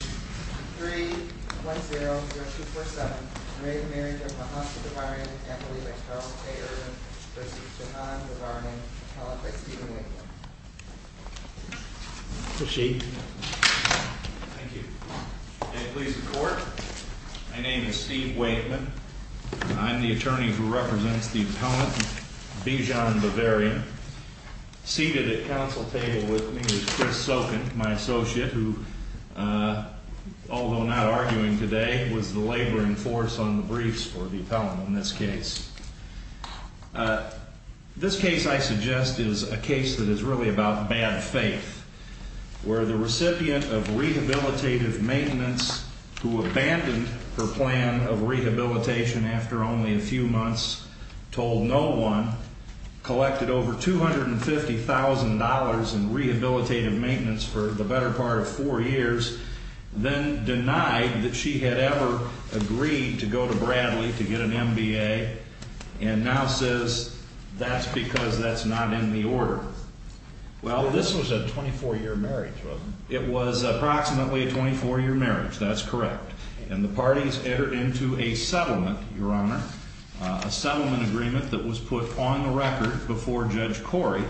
310-0247, re Marriage of Mahatma Bavarian and Khalifa Charles K. Ervin v. Shahan Bavarian, held by Stephen Wakeman. The sheet. Thank you. May it please the Court. My name is Steve Wakeman. I'm the attorney who represents the appellant Bijan Bavarian. Seated at council table with me is Chris Sokin, my associate, who, although not arguing today, was the labor in force on the briefs for the appellant in this case. This case, I suggest, is a case that is really about bad faith, where the recipient of rehabilitative maintenance, who abandoned her plan of rehabilitation after only a few months, told no one, collected over $250,000 in rehabilitative maintenance for the better part of four years, then denied that she had ever agreed to go to Bradley to get an MBA, and now says that's because that's not in the order. Well, this was a 24-year marriage, wasn't it? It was approximately a 24-year marriage, that's correct. And the parties entered into a settlement, Your Honor, a settlement agreement that was put on the record before Judge Corey,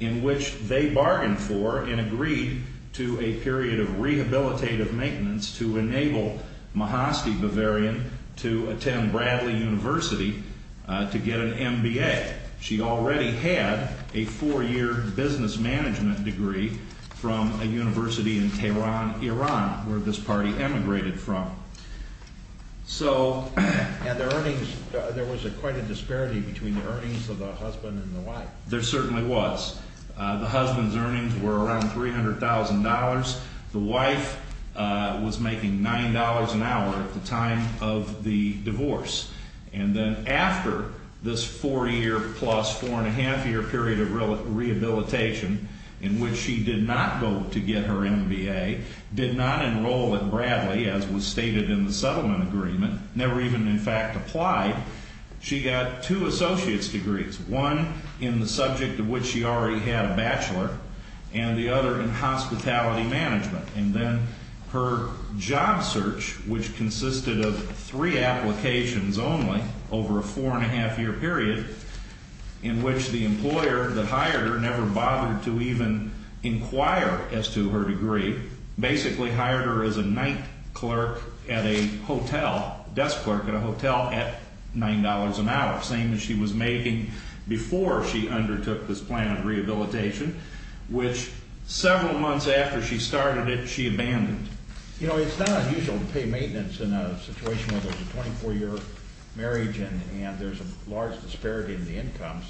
in which they bargained for and agreed to a period of rehabilitative maintenance to enable Mahasty Bavarian to attend Bradley University to get an MBA. She already had a four-year business management degree from a university in Tehran, Iran, where this party emigrated from. So... And the earnings, there was quite a disparity between the earnings of the husband and the wife. There certainly was. The husband's earnings were around $300,000. The wife was making $9 an hour at the time of the divorce. And then after this four-year plus four-and-a-half-year period of rehabilitation in which she did not go to get her MBA, did not enroll at Bradley as was stated in the settlement agreement, never even, in fact, applied, she got two associate's degrees, one in the subject of which she already had a bachelor and the other in hospitality management. And then her job search, which consisted of three applications only over a four-and-a-half-year period in which the employer that hired her never bothered to even inquire as to her degree, basically hired her as a night clerk at a hotel, desk clerk at a hotel at $9 an hour, same as she was making before she undertook this plan of rehabilitation, which several months after she started it, she abandoned. You know, it's not unusual to pay maintenance in a situation where there's a 24-year marriage and there's a large disparity in the incomes.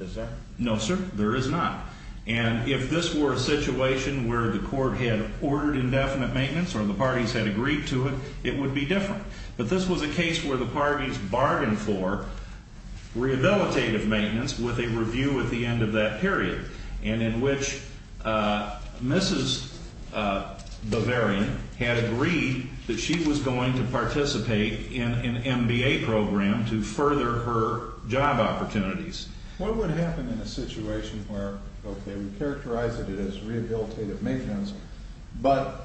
Is there? No, sir, there is not. And if this were a situation where the court had ordered indefinite maintenance or the parties had agreed to it, it would be different. But this was a case where the parties bargained for rehabilitative maintenance with a review at the end of that period and in which Mrs. Bavarian had agreed that she was going to participate in an MBA program to further her job opportunities. What would happen in a situation where, okay, we characterize it as rehabilitative maintenance, but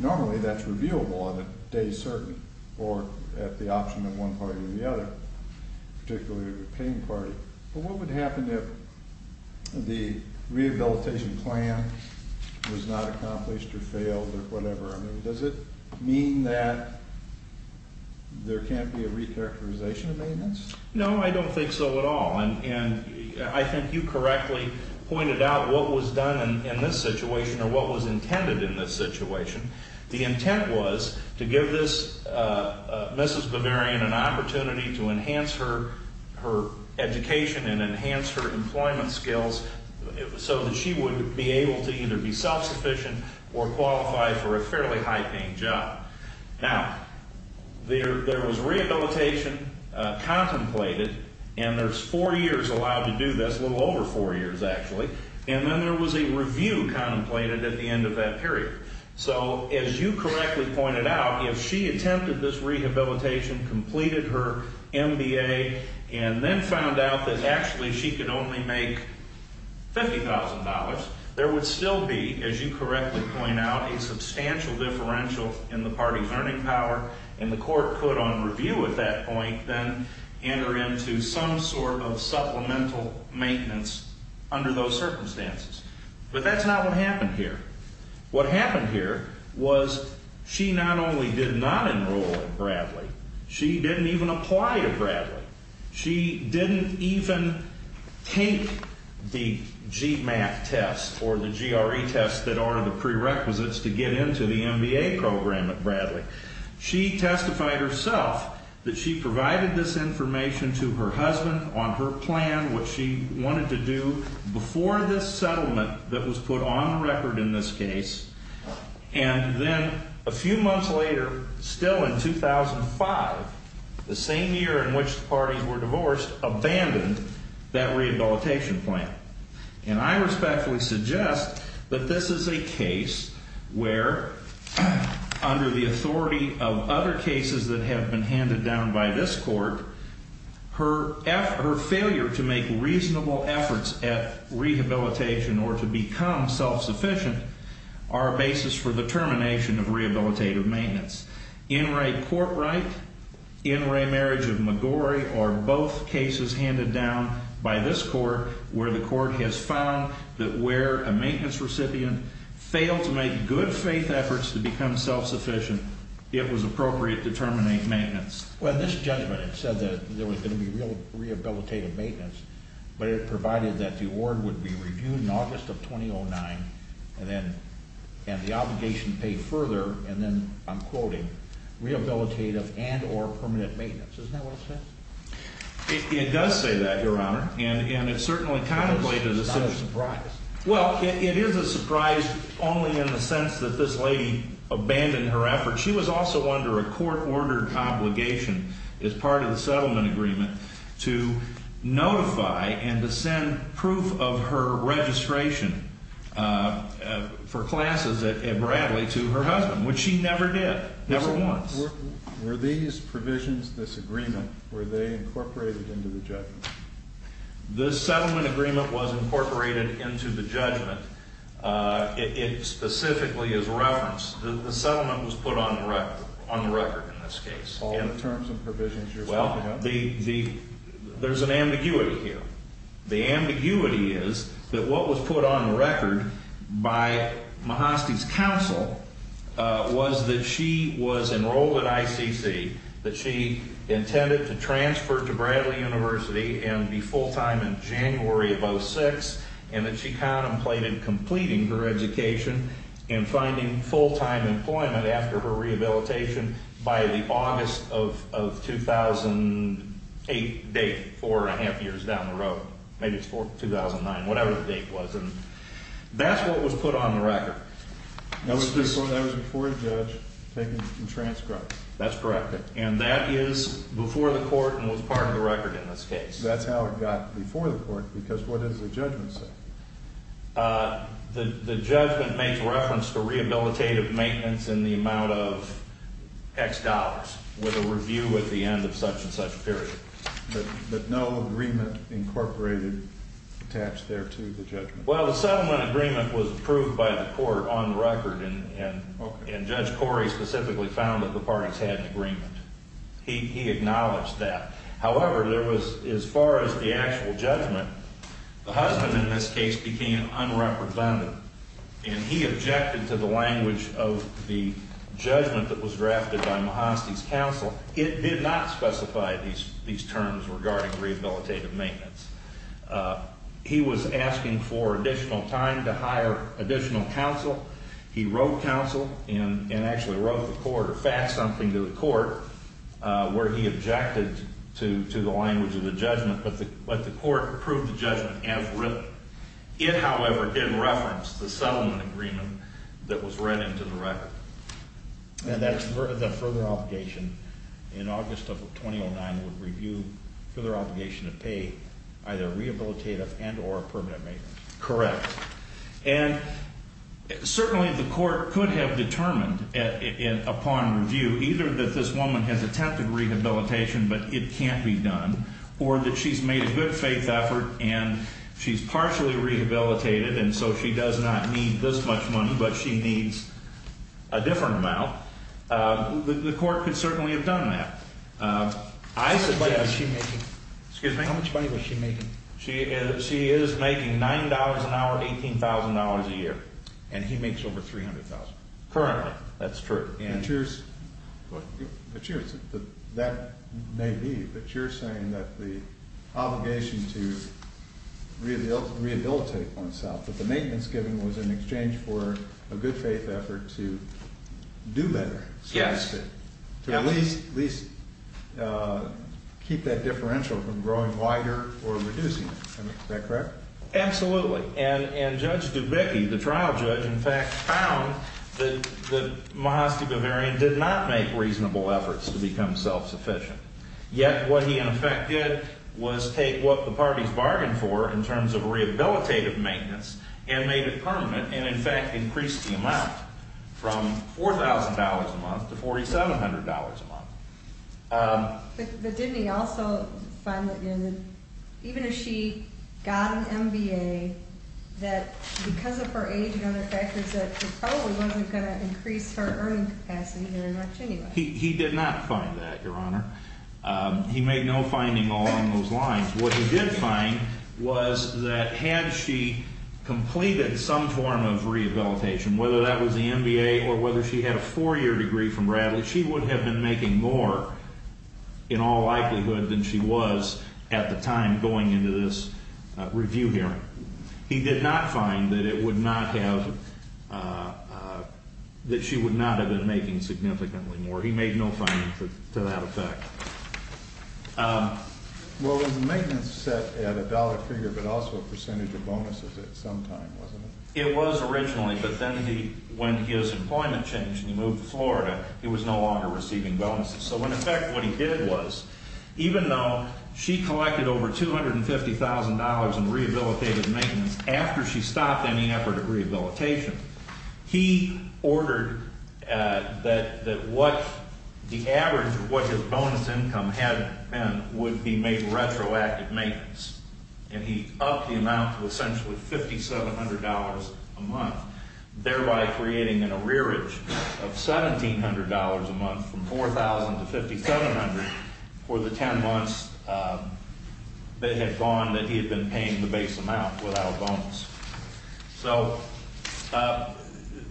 normally that's reviewable on a day certain or at the option of one party or the other, particularly the paying party, but what would happen if the rehabilitation plan was not accomplished or failed or whatever? Does it mean that there can't be a recharacterization of maintenance? No, I don't think so at all. And I think you correctly pointed out what was done in this situation or what was intended in this situation. The intent was to give this Mrs. Bavarian an opportunity to enhance her education and enhance her employment skills so that she would be able to either be self-sufficient or qualify for a fairly high-paying job. Now, there was rehabilitation contemplated, and there's four years allowed to do this, a little over four years actually, and then there was a review contemplated at the end of that period. So as you correctly pointed out, if she attempted this rehabilitation, completed her MBA, and then found out that actually she could only make $50,000, there would still be, as you correctly point out, a substantial differential in the party's earning power, and the court could, on review at that point, then enter into some sort of supplemental maintenance under those circumstances. But that's not what happened here. What happened here was she not only did not enroll in Bradley, she didn't even apply to Bradley. She didn't even take the GMAT test or the GRE test that are the prerequisites to get into the MBA program at Bradley. She testified herself that she provided this information to her husband on her plan, what she wanted to do before this settlement that was put on record in this case, and then a few months later, still in 2005, the same year in which the parties were divorced, abandoned that rehabilitation plan. And I respectfully suggest that this is a case where, under the authority of other cases that have been handed down by this court, her failure to make reasonable efforts at rehabilitation or to become self-sufficient are a basis for the termination of rehabilitative maintenance. In re court right, in re marriage of McGorry are both cases handed down by this court where the court has found that where a maintenance recipient failed to make good faith efforts to become self-sufficient, it was appropriate to terminate maintenance. Well, in this judgment it said that there was going to be real rehabilitative maintenance, but it provided that the award would be reviewed in August of 2009, and the obligation paid further, and then I'm quoting, rehabilitative and or permanent maintenance. Isn't that what it says? It does say that, Your Honor. And it certainly contemplated the situation. That's not a surprise. Well, it is a surprise only in the sense that this lady abandoned her efforts. She was also under a court-ordered obligation as part of the settlement agreement to notify and to send proof of her registration for classes at Bradley to her husband, which she never did, never once. Were these provisions, this agreement, were they incorporated into the judgment? The settlement agreement was incorporated into the judgment. It specifically is referenced. The settlement was put on the record in this case. All the terms and provisions you're talking about. There's an ambiguity here. The ambiguity is that what was put on the record by Mahasty's counsel was that she was enrolled at ICC, that she intended to transfer to Bradley University and be full-time in January of 2006, and that she contemplated completing her education and finding full-time employment after her rehabilitation by the August of 2008 date, four and a half years down the road. Maybe it's 2009, whatever the date was. And that's what was put on the record. That was before a judge taking a transcript. That's correct. And that is before the court and was part of the record in this case. That's how it got before the court, because what does the judgment say? The judgment makes reference to rehabilitative maintenance in the amount of X dollars with a review at the end of such and such period. But no agreement incorporated attached there to the judgment? Well, the settlement agreement was approved by the court on the record, and Judge Corey specifically found that the parties had an agreement. He acknowledged that. However, there was, as far as the actual judgment, the husband in this case became unrepresentative, and he objected to the language of the judgment that was drafted by Mahasty's counsel. It did not specify these terms regarding rehabilitative maintenance. He was asking for additional time to hire additional counsel. He wrote counsel and actually wrote the court or faxed something to the court where he objected to the language of the judgment, but the court approved the judgment as written. It, however, didn't reference the settlement agreement that was read into the record. And that further obligation in August of 2009 would review further obligation to pay either rehabilitative and or permanent maintenance. Correct. And certainly the court could have determined upon review either that this woman has attempted rehabilitation but it can't be done or that she's made a good faith effort and she's partially rehabilitated and so she does not need this much money but she needs a different amount. The court could certainly have done that. How much money was she making? She is making $9 an hour, $18,000 a year, and he makes over $300,000. Currently, that's true. But that may be, but you're saying that the obligation to rehabilitate oneself, that the maintenance given was in exchange for a good faith effort to do better. Yes. To at least keep that differential from growing wider or reducing it. Is that correct? Absolutely. And Judge Dubicki, the trial judge, in fact, found that Mahasty Bavarian did not make reasonable efforts to become self-sufficient. Yet what he in effect did was take what the parties bargained for in terms of rehabilitative maintenance and made it permanent and, in fact, increased the amount from $4,000 a month to $4,700 a month. But didn't he also find that even if she got an MBA, that because of her age and other factors, that it probably wasn't going to increase her earning capacity very much anyway? He did not find that, Your Honor. He made no finding along those lines. What he did find was that had she completed some form of rehabilitation, whether that was the MBA or whether she had a four-year degree from Bradley, that she would have been making more in all likelihood than she was at the time going into this review hearing. He did not find that she would not have been making significantly more. He made no finding to that effect. Well, it was a maintenance set at a dollar figure but also a percentage of bonuses at some time, wasn't it? It was originally, but then he went to give us employment change and he moved to Florida. He was no longer receiving bonuses. So, in effect, what he did was, even though she collected over $250,000 in rehabilitative maintenance after she stopped any effort of rehabilitation, he ordered that the average of what his bonus income had been would be made retroactive maintenance. And he upped the amount to essentially $5,700 a month, thereby creating an arrearage of $1,700 a month from $4,000 to $5,700 for the 10 months that had gone that he had been paying the base amount without a bonus. So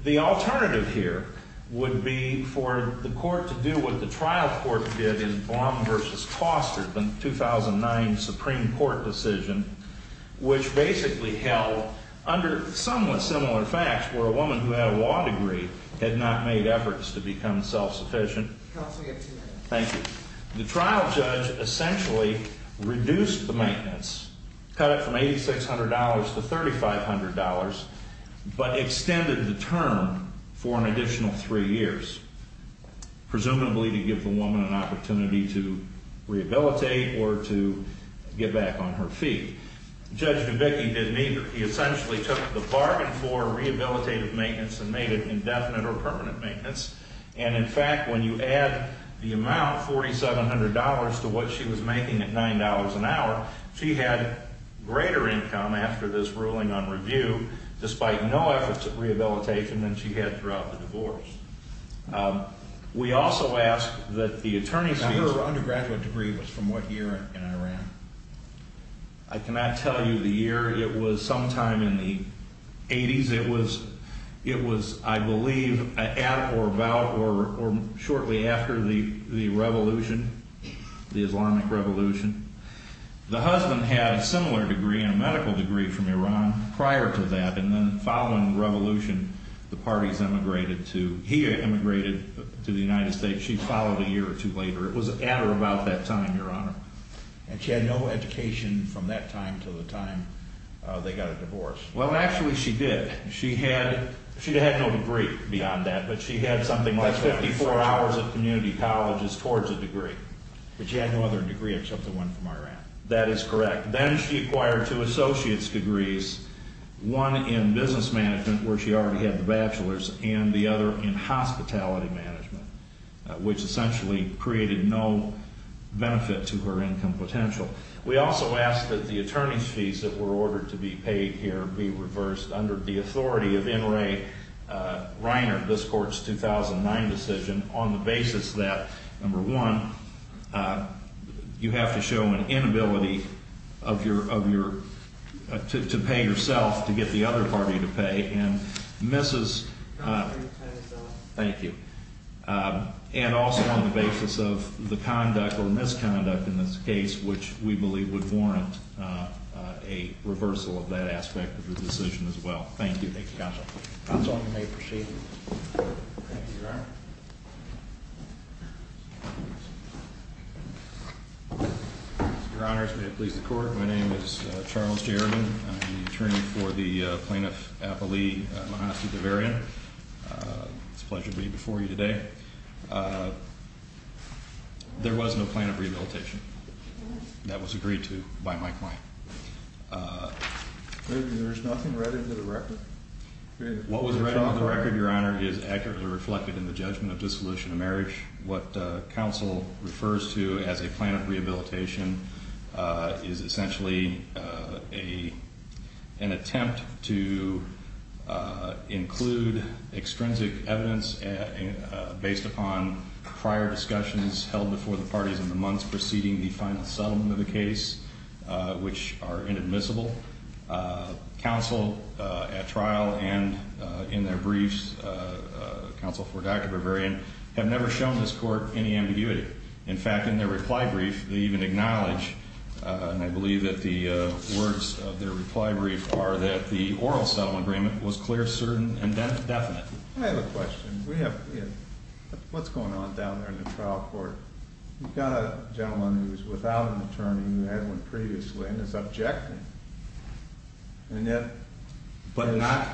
the alternative here would be for the court to do what the trial court did in Blum v. Foster, the 2009 Supreme Court decision, which basically held under somewhat similar facts where a woman who had a law degree had not made efforts to become self-sufficient. Counsel, you have two minutes. Thank you. The trial judge essentially reduced the maintenance, cut it from $8,600 to $3,500, but extended the term for an additional three years, presumably to give the woman an opportunity to rehabilitate or to get back on her feet. Judge Dubicki didn't either. He essentially took the bargain for rehabilitative maintenance and made it indefinite or permanent maintenance. And, in fact, when you add the amount, $4,700, to what she was making at $9 an hour, she had greater income after this ruling on review despite no efforts at rehabilitation than she had throughout the divorce. We also ask that the attorney's fees... What year in Iran? I cannot tell you the year. It was sometime in the 80s. It was, I believe, at or about or shortly after the revolution, the Islamic revolution. The husband had a similar degree, a medical degree, from Iran prior to that, and then following the revolution, the parties emigrated to... He emigrated to the United States. She followed a year or two later. It was at or about that time, Your Honor. And she had no education from that time to the time they got a divorce. Well, actually, she did. She had no degree beyond that, but she had something like 54 hours of community colleges towards a degree. But she had no other degree except the one from Iran. That is correct. Then she acquired two associate's degrees, one in business management where she already had the bachelor's and the other in hospitality management, which essentially created no benefit to her income potential. We also ask that the attorney's fees that were ordered to be paid here be reversed under the authority of N. Ray Reiner, this court's 2009 decision, on the basis that, number one, you have to show an inability to pay yourself to get the other party to pay, and also on the basis of the conduct or misconduct in this case, which we believe would warrant a reversal of that aspect of the decision as well. Thank you. Thank you, Counsel. Counsel, you may proceed. Thank you, Your Honor. Your Honors, may it please the Court. My name is Charles Jerrigan. I'm the attorney for the plaintiff, Appali Mahasi Deverian. It's a pleasure to be before you today. There was no plan of rehabilitation. That was agreed to by my client. There's nothing read into the record? What was read into the record, Your Honor, is accurately reflected in the judgment of dissolution of marriage. What counsel refers to as a plan of rehabilitation is essentially an attempt to include extrinsic evidence based upon prior discussions held before the parties in the months preceding the final settlement of the case, which are inadmissible. Counsel at trial and in their briefs, counsel for Dr. Deverian, have never shown this Court any ambiguity. In fact, in their reply brief, they even acknowledge, and I believe that the words of their reply brief are that the oral settlement agreement was clear, certain, and definite. I have a question. What's going on down there in the trial court? You've got a gentleman who's without an attorney who had one previously and is objecting. But not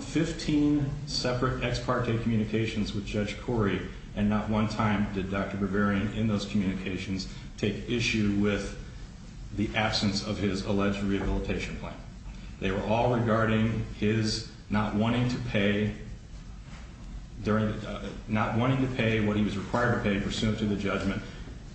15 separate ex parte communications with Judge Corey, and not one time did Dr. Deverian in those communications take issue with the absence of his alleged rehabilitation plan. They were all regarding his not wanting to pay what he was required to pay pursuant to the judgment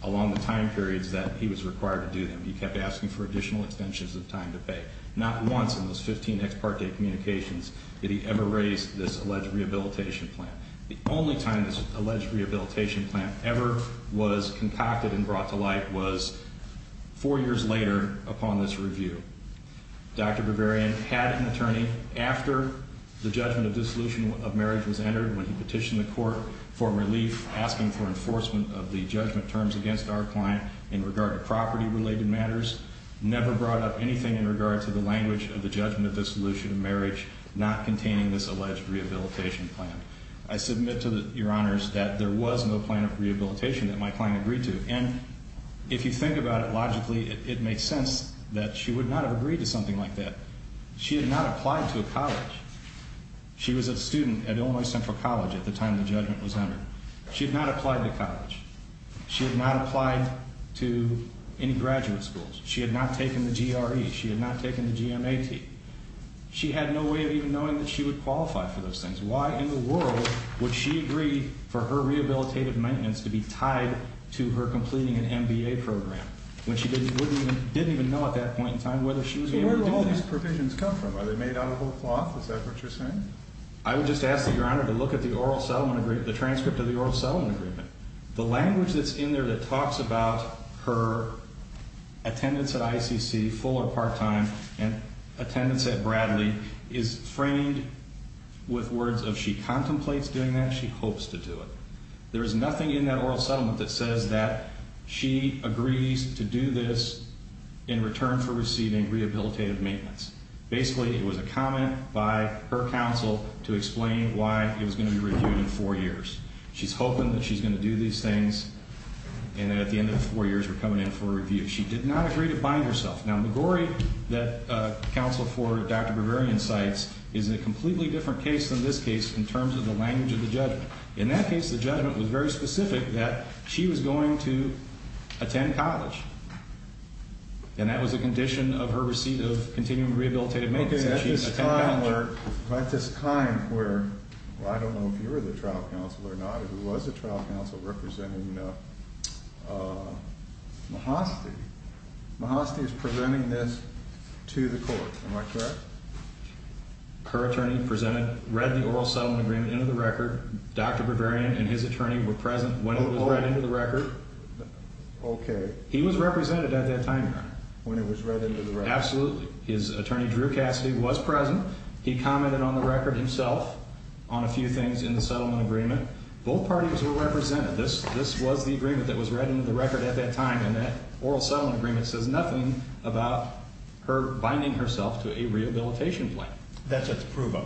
along the time periods that he was required to do them. He kept asking for additional extensions of time to pay. Not once in those 15 ex parte communications did he ever raise this alleged rehabilitation plan. The only time this alleged rehabilitation plan ever was concocted and brought to light was four years later upon this review. Dr. Deverian had an attorney after the judgment of dissolution of marriage was entered, when he petitioned the Court for relief, asking for enforcement of the judgment terms against our client in regard to property-related matters, never brought up anything in regard to the language of the judgment of dissolution of marriage not containing this alleged rehabilitation plan. I submit to Your Honors that there was no plan of rehabilitation that my client agreed to. And if you think about it logically, it makes sense that she would not have agreed to something like that. She had not applied to a college. She was a student at Illinois Central College at the time the judgment was entered. She had not applied to college. She had not applied to any graduate schools. She had not taken the GRE. She had not taken the GMAT. She had no way of even knowing that she would qualify for those things. Why in the world would she agree for her rehabilitative maintenance to be tied to her completing an MBA program, when she didn't even know at that point in time whether she was able to do that? So where did all these provisions come from? Are they made out of old cloth? Is that what you're saying? I would just ask that Your Honor to look at the transcript of the oral settlement agreement. The language that's in there that talks about her attendance at ICC, full or part-time, and attendance at Bradley is framed with words of she contemplates doing that, she hopes to do it. There is nothing in that oral settlement that says that she agrees to do this in return for receiving rehabilitative maintenance. Basically, it was a comment by her counsel to explain why it was going to be reviewed in four years. She's hoping that she's going to do these things, and that at the end of the four years, we're coming in for a review. She did not agree to bind herself. Now, McGorry, that counsel for Dr. Bavarian cites, is a completely different case than this case in terms of the language of the judgment. In that case, the judgment was very specific that she was going to attend college, and that was a condition of her receipt of continuing rehabilitative maintenance. At this time where, I don't know if you were the trial counsel or not, it was a trial counsel representing Mahasty. Mahasty is presenting this to the court, am I correct? Her attorney presented, read the oral settlement agreement into the record. Dr. Bavarian and his attorney were present when it was read into the record. Okay. He was represented at that time, Your Honor. When it was read into the record. Absolutely. His attorney, Drew Cassidy, was present. He commented on the record himself on a few things in the settlement agreement. Both parties were represented. This was the agreement that was read into the record at that time, and that oral settlement agreement says nothing about her binding herself to a rehabilitation plan. That's at the prove-up.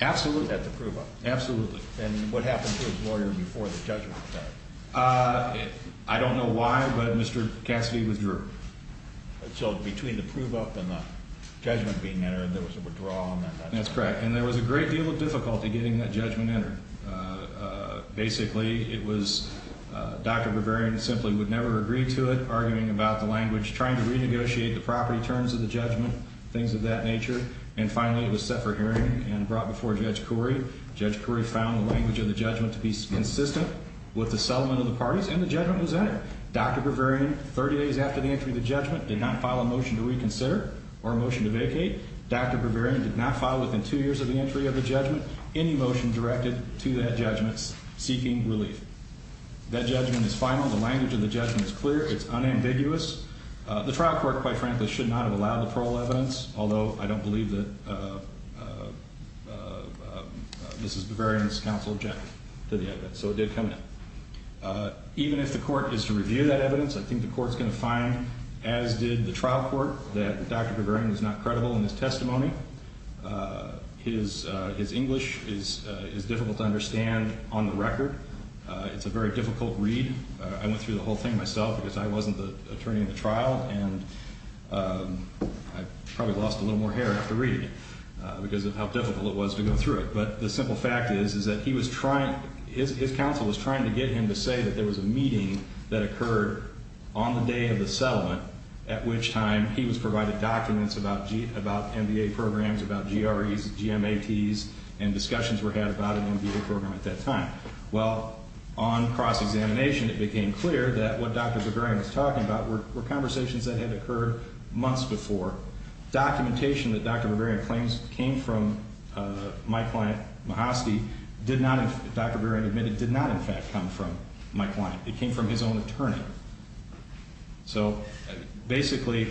Absolutely. At the prove-up. Absolutely. And what happened to his lawyer before the judgment was made? I don't know why, but Mr. Cassidy withdrew. So between the prove-up and the judgment being entered, there was a withdrawal. That's correct. And there was a great deal of difficulty getting that judgment entered. Basically, it was Dr. Bavarian simply would never agree to it, arguing about the language, trying to renegotiate the property terms of the judgment, things of that nature. And finally, it was set for hearing and brought before Judge Corey. Judge Corey found the language of the judgment to be consistent with the settlement of the parties, and the judgment was entered. Dr. Bavarian, 30 days after the entry of the judgment, did not file a motion to reconsider or a motion to vacate. Dr. Bavarian did not file within two years of the entry of the judgment any motion directed to that judgment seeking relief. That judgment is final. The language of the judgment is clear. It's unambiguous. The trial court, quite frankly, should not have allowed the parole evidence, although I don't believe that this is Bavarian's counsel's objection to the evidence. So it did come in. Even if the court is to review that evidence, I think the court's going to find, as did the trial court, that Dr. Bavarian was not credible in his testimony. His English is difficult to understand on the record. It's a very difficult read. I went through the whole thing myself because I wasn't the attorney in the trial, and I probably lost a little more hair after reading it because of how difficult it was to go through it. But the simple fact is that his counsel was trying to get him to say that there was a meeting that occurred on the day of the settlement, at which time he was provided documents about MBA programs, about GREs, GMATs, and discussions were had about an MBA program at that time. Well, on cross-examination, it became clear that what Dr. Bavarian was talking about were conversations that had occurred months before. Documentation that Dr. Bavarian claims came from my client, Mahosky, did not, Dr. Bavarian admitted, did not in fact come from my client. It came from his own attorney. So basically,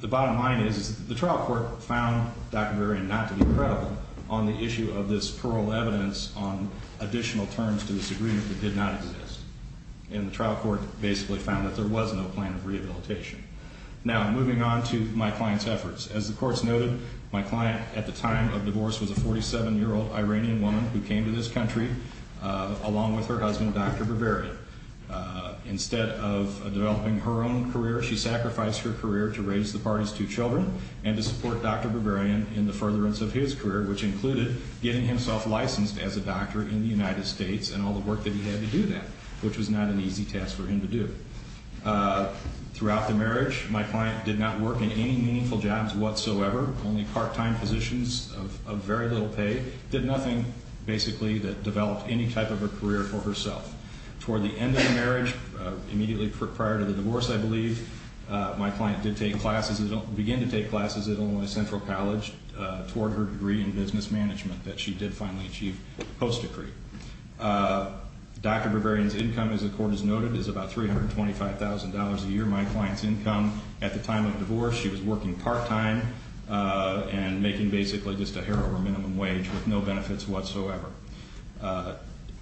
the bottom line is the trial court found Dr. Bavarian not to be credible on the issue of this plural evidence on additional terms to this agreement that did not exist. And the trial court basically found that there was no plan of rehabilitation. Now, moving on to my client's efforts. As the courts noted, my client at the time of divorce was a 47-year-old Iranian woman who came to this country along with her husband, Dr. Bavarian. Instead of developing her own career, she sacrificed her career to raise the party's two children and to support Dr. Bavarian in the furtherance of his career, which included getting himself licensed as a doctor in the United States and all the work that he had to do that, which was not an easy task for him to do. Throughout the marriage, my client did not work in any meaningful jobs whatsoever, only part-time positions of very little pay, did nothing basically that developed any type of a career for herself. Toward the end of the marriage, immediately prior to the divorce, I believe, my client did begin to take classes at Illinois Central College toward her degree in business management that she did finally achieve post-decree. Dr. Bavarian's income, as the court has noted, is about $325,000 a year. My client's income at the time of divorce, she was working part-time and making basically just a hair over minimum wage with no benefits whatsoever.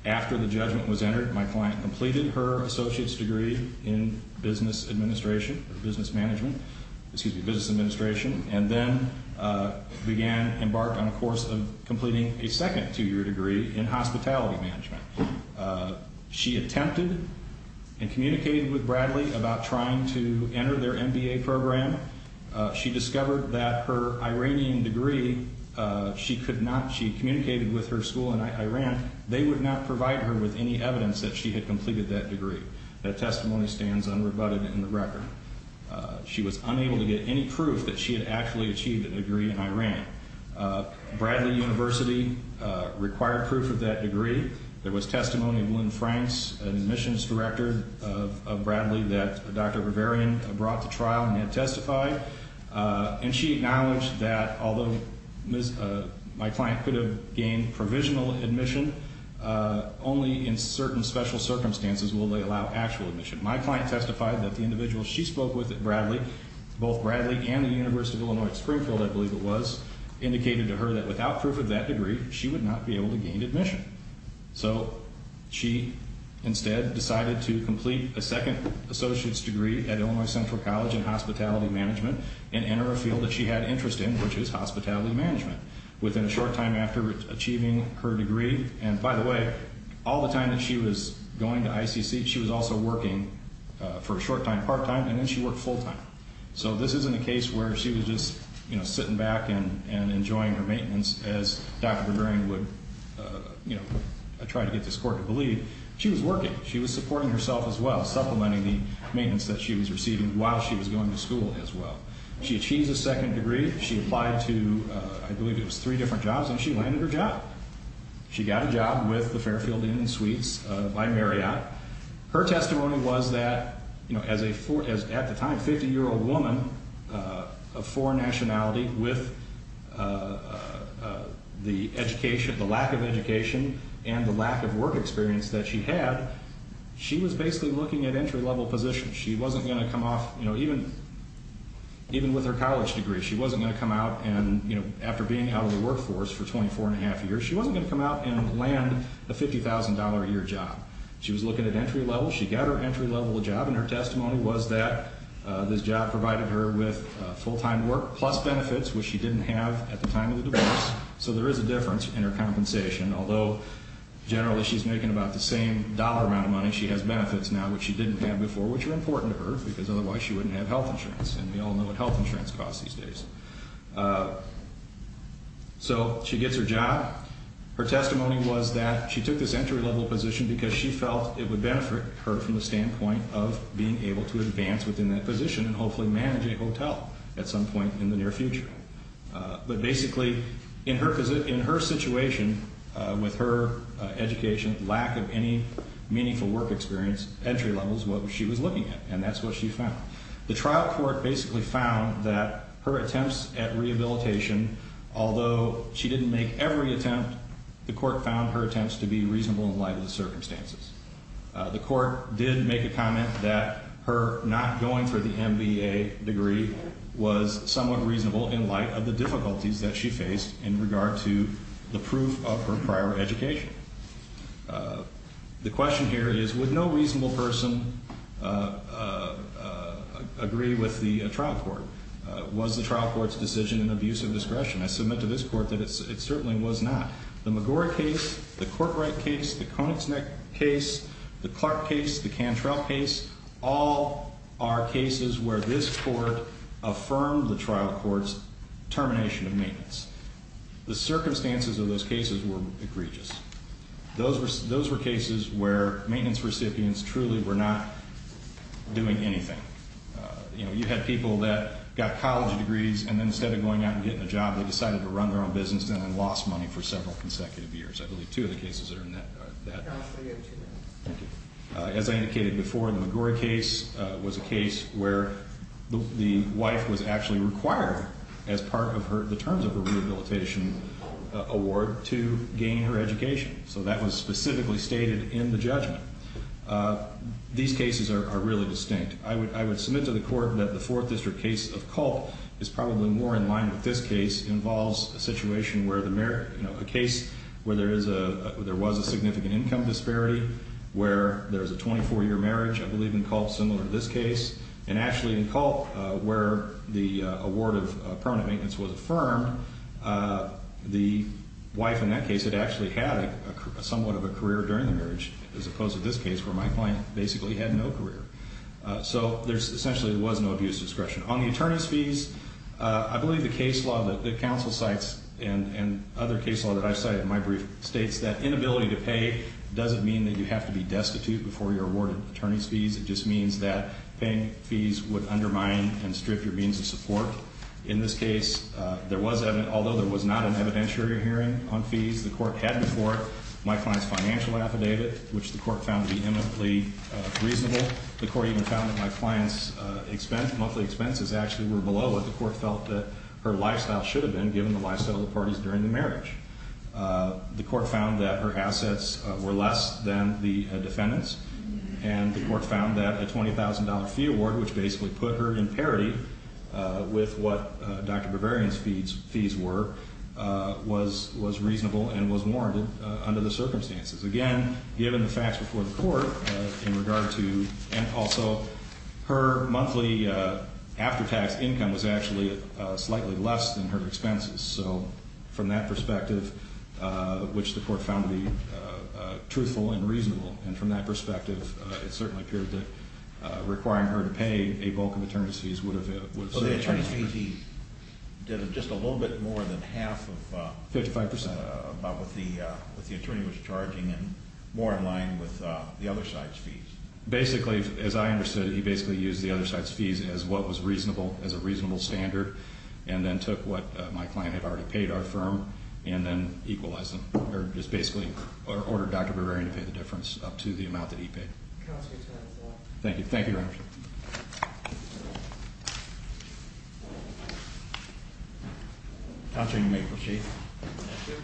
After the judgment was entered, my client completed her associate's degree in business administration, business management, excuse me, business administration, and then began embarked on a course of completing a second two-year degree in hospitality management. She attempted and communicated with Bradley about trying to enter their MBA program. She discovered that her Iranian degree, she could not, she communicated with her school in Iran, they would not provide her with any evidence that she had completed that degree. That testimony stands unrebutted in the record. She was unable to get any proof that she had actually achieved a degree in Iran. Bradley University required proof of that degree. There was testimony of Lynn Franks, admissions director of Bradley, that Dr. Bavarian brought to trial and had testified. And she acknowledged that although my client could have gained provisional admission, only in certain special circumstances will they allow actual admission. My client testified that the individual she spoke with at Bradley, both Bradley and the University of Illinois at Springfield, I believe it was, indicated to her that without proof of that degree, she would not be able to gain admission. So she instead decided to complete a second associate's degree at Illinois Central College in hospitality management and enter a field that she had interest in, which is hospitality management. Within a short time after achieving her degree, and by the way, all the time that she was going to ICC, she was also working for a short time, part time, and then she worked full time. So this isn't a case where she was just sitting back and enjoying her maintenance as Dr. Bavarian would try to get this court to believe. She was working. She was supporting herself as well, supplementing the maintenance that she was receiving while she was going to school as well. She achieved a second degree. She applied to, I believe it was three different jobs, and she landed her job. She got a job with the Fairfield Inn and Suites by Marriott. Her testimony was that as a, at the time, 50-year-old woman of foreign nationality with the education, the lack of education, and the lack of work experience that she had, she was basically looking at entry-level positions. She wasn't going to come off, you know, even with her college degree, she wasn't going to come out and, you know, after being out of the workforce for 24 1⁄2 years, she wasn't going to come out and land a $50,000 a year job. She was looking at entry levels. She got her entry-level job, and her testimony was that this job provided her with full-time work plus benefits, which she didn't have at the time of the divorce, so there is a difference in her compensation, although generally she's making about the same dollar amount of money she has benefits now, which she didn't have before, which are important to her, because otherwise she wouldn't have health insurance, and we all know what health insurance costs these days. So she gets her job. Her testimony was that she took this entry-level position because she felt it would benefit her from the standpoint of being able to advance within that position and hopefully manage a hotel at some point in the near future. But basically in her situation with her education, lack of any meaningful work experience, entry level is what she was looking at, and that's what she found. The trial court basically found that her attempts at rehabilitation, although she didn't make every attempt, the court found her attempts to be reasonable in light of the circumstances. The court did make a comment that her not going for the MBA degree was somewhat reasonable in light of the difficulties that she faced in regard to the proof of her prior education. The question here is, would no reasonable person agree with the trial court? Was the trial court's decision an abuse of discretion? I submit to this court that it certainly was not. The McGorry case, the Courtright case, the Koenigsegg case, the Clark case, the Cantrell case, all are cases where this court affirmed the trial court's termination of maintenance. The circumstances of those cases were egregious. Those were cases where maintenance recipients truly were not doing anything. You had people that got college degrees, and then instead of going out and getting a job, they decided to run their own business and then lost money for several consecutive years. I believe two of the cases are in that. As I indicated before, the McGorry case was a case where the wife was actually required as part of the terms of her rehabilitation award to gain her education. So that was specifically stated in the judgment. These cases are really distinct. I would submit to the court that the Fourth District case of Culp is probably more in line with this case. It involves a situation where there was a significant income disparity, where there's a 24-year marriage, I believe, in Culp similar to this case. And actually in Culp, where the award of permanent maintenance was affirmed, the wife in that case had actually had somewhat of a career during the marriage, as opposed to this case where my client basically had no career. So essentially there was no abuse discretion. On the attorney's fees, I believe the case law that the counsel cites and other case law that I cite in my brief states that inability to pay doesn't mean that you have to be destitute before you're awarded attorney's fees. It just means that paying fees would undermine and strip your means of support. In this case, although there was not an evidentiary hearing on fees, the court had before my client's financial affidavit, which the court found vehemently reasonable. The court even found that my client's expense, monthly expenses, actually were below what the court felt that her lifestyle should have been given the lifestyle of the parties during the marriage. The court found that her assets were less than the defendant's, and the court found that a $20,000 fee award, which basically put her in parity with what Dr. Bavarian's fees were, was reasonable and was warranted under the circumstances. Again, given the facts before the court in regard to, and also her monthly after-tax income was actually slightly less than her expenses. So from that perspective, which the court found to be truthful and reasonable, and from that perspective, it certainly appeared that requiring her to pay a bulk of attorney's fees would have... So the attorney's fees, he did just a little bit more than half of... 55%. About what the attorney was charging, and more in line with the other side's fees. Basically, as I understood it, he basically used the other side's fees as what was reasonable, as a reasonable standard, and then took what my client had already paid our firm, and then equalized them, or just basically ordered Dr. Bavarian to pay the difference up to the amount that he paid. Thank you. Thank you, Your Honor. Thank you. Counselor, you may proceed. Thank you.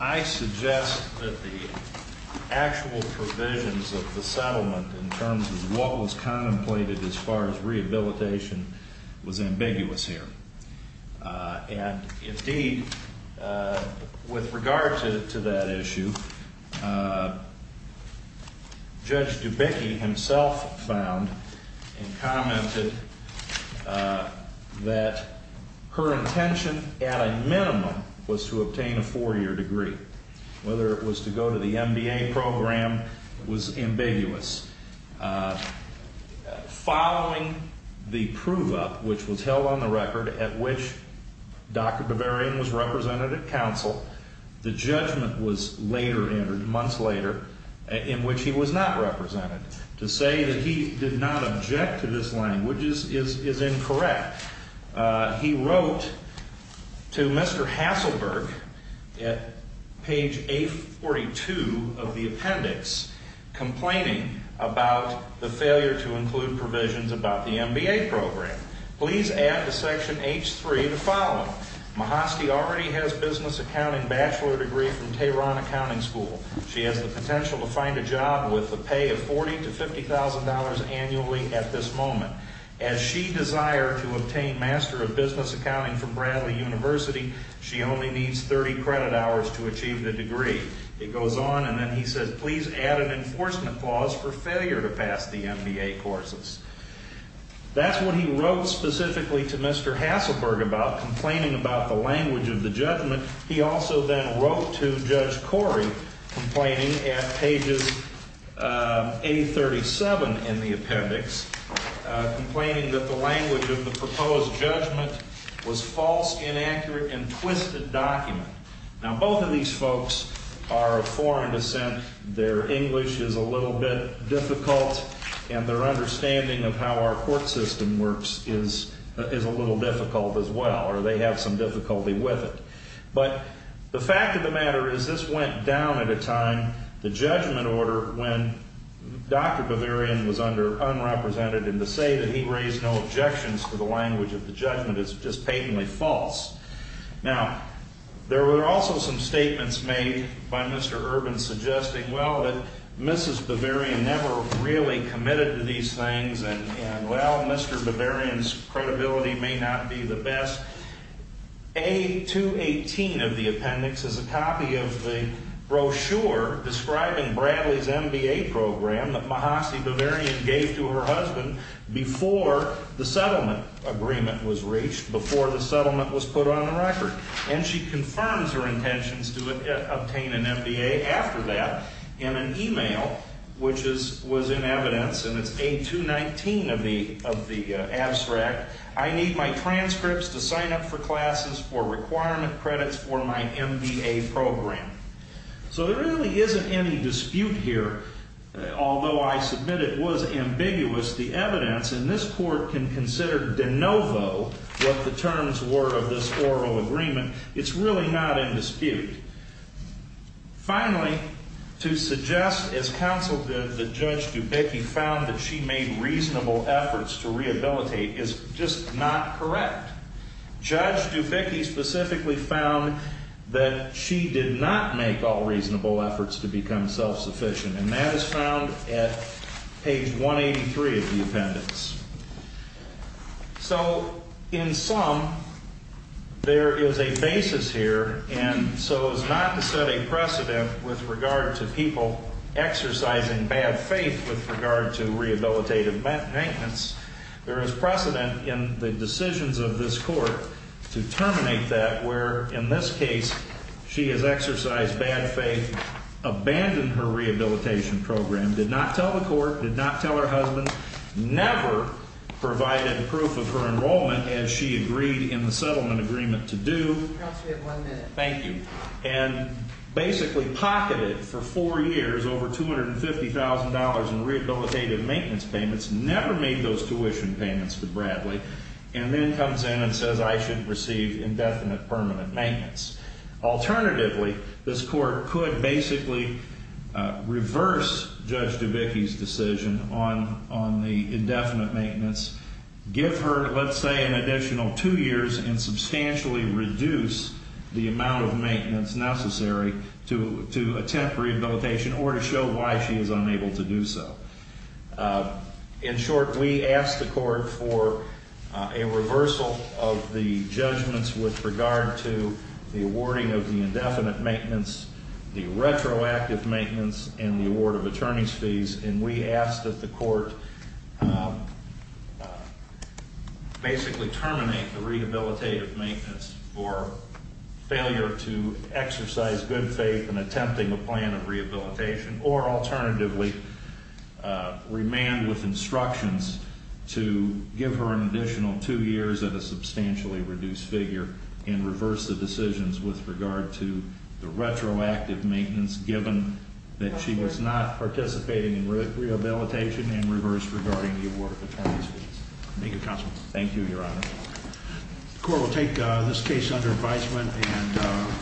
I suggest that the actual provisions of the settlement in terms of what was contemplated as far as rehabilitation was ambiguous here. And indeed, with regard to that issue, Judge Dubicki himself found and commented that her intention, at a minimum, was to obtain a four-year degree. Whether it was to go to the MBA program was ambiguous. Following the prove-up, which was held on the record at which Dr. Bavarian was represented at counsel, the judgment was later entered, months later, in which he was not represented. To say that he did not object to this language is incorrect. He wrote to Mr. Hasselberg at page 842 of the appendix, complaining about the failure to include provisions about the MBA program. Please add to section H3 the following. Mahosky already has a business accounting bachelor degree from Tehran Accounting School. She has the potential to find a job with a pay of $40,000 to $50,000 annually at this moment. As she desired to obtain Master of Business Accounting from Bradley University, she only needs 30 credit hours to achieve the degree. It goes on, and then he says, please add an enforcement clause for failure to pass the MBA courses. That's what he wrote specifically to Mr. Hasselberg about, complaining about the language of the judgment. He also then wrote to Judge Corey, complaining at pages 837 in the appendix, complaining that the language of the proposed judgment was false, inaccurate, and twisted document. Now, both of these folks are of foreign descent. Their English is a little bit difficult, and their understanding of how our court system works is a little difficult as well, or they have some difficulty with it. But the fact of the matter is this went down at a time, the judgment order, when Dr. Bavarian was under unrepresented, and to say that he raised no objections to the language of the judgment is just patently false. Now, there were also some statements made by Mr. Urban, suggesting, well, that Mrs. Bavarian never really committed to these things, and, well, Mr. Bavarian's credibility may not be the best. A218 of the appendix is a copy of the brochure describing Bradley's MBA program that Mahasi Bavarian gave to her husband before the settlement agreement was reached, before the settlement was put on the record. And she confirms her intentions to obtain an MBA after that in an email, which was in evidence, and it's A219 of the abstract. I need my transcripts to sign up for classes for requirement credits for my MBA program. So there really isn't any dispute here. Although I submit it was ambiguous, the evidence in this court can consider de novo what the terms were of this oral agreement. It's really not in dispute. Finally, to suggest, as counsel did, that Judge Dubicki found that she made reasonable efforts to rehabilitate is just not correct. Judge Dubicki specifically found that she did not make all reasonable efforts to become self-sufficient, and that is found at page 183 of the appendix. So, in sum, there is a basis here, and so as not to set a precedent with regard to people exercising bad faith with regard to rehabilitative maintenance, there is precedent in the decisions of this court to terminate that, where, in this case, she has exercised bad faith, abandoned her rehabilitation program, did not tell the court, did not tell her husband, never provided proof of her enrollment as she agreed in the settlement agreement to do. Thank you. And basically pocketed for four years over $250,000 in rehabilitative maintenance payments, never made those tuition payments to Bradley, and then comes in and says, I should receive indefinite permanent maintenance. Alternatively, this court could basically reverse Judge Dubicki's decision on the indefinite maintenance, give her, let's say, an additional two years and substantially reduce the amount of maintenance necessary to attempt rehabilitation or to show why she is unable to do so. In short, we asked the court for a reversal of the judgments with regard to the awarding of the indefinite maintenance, the retroactive maintenance, and the award of attorney's fees, and we asked that the court basically terminate the rehabilitative maintenance for failure to exercise good faith in attempting a plan of rehabilitation or alternatively remand with instructions to give her an additional two years and a substantially reduced figure and reverse the decisions with regard to the retroactive maintenance given that she was not participating in rehabilitation and reverse regarding the award of attorney's fees. Thank you, counsel. Thank you, Your Honor. The court will take this case under advisement and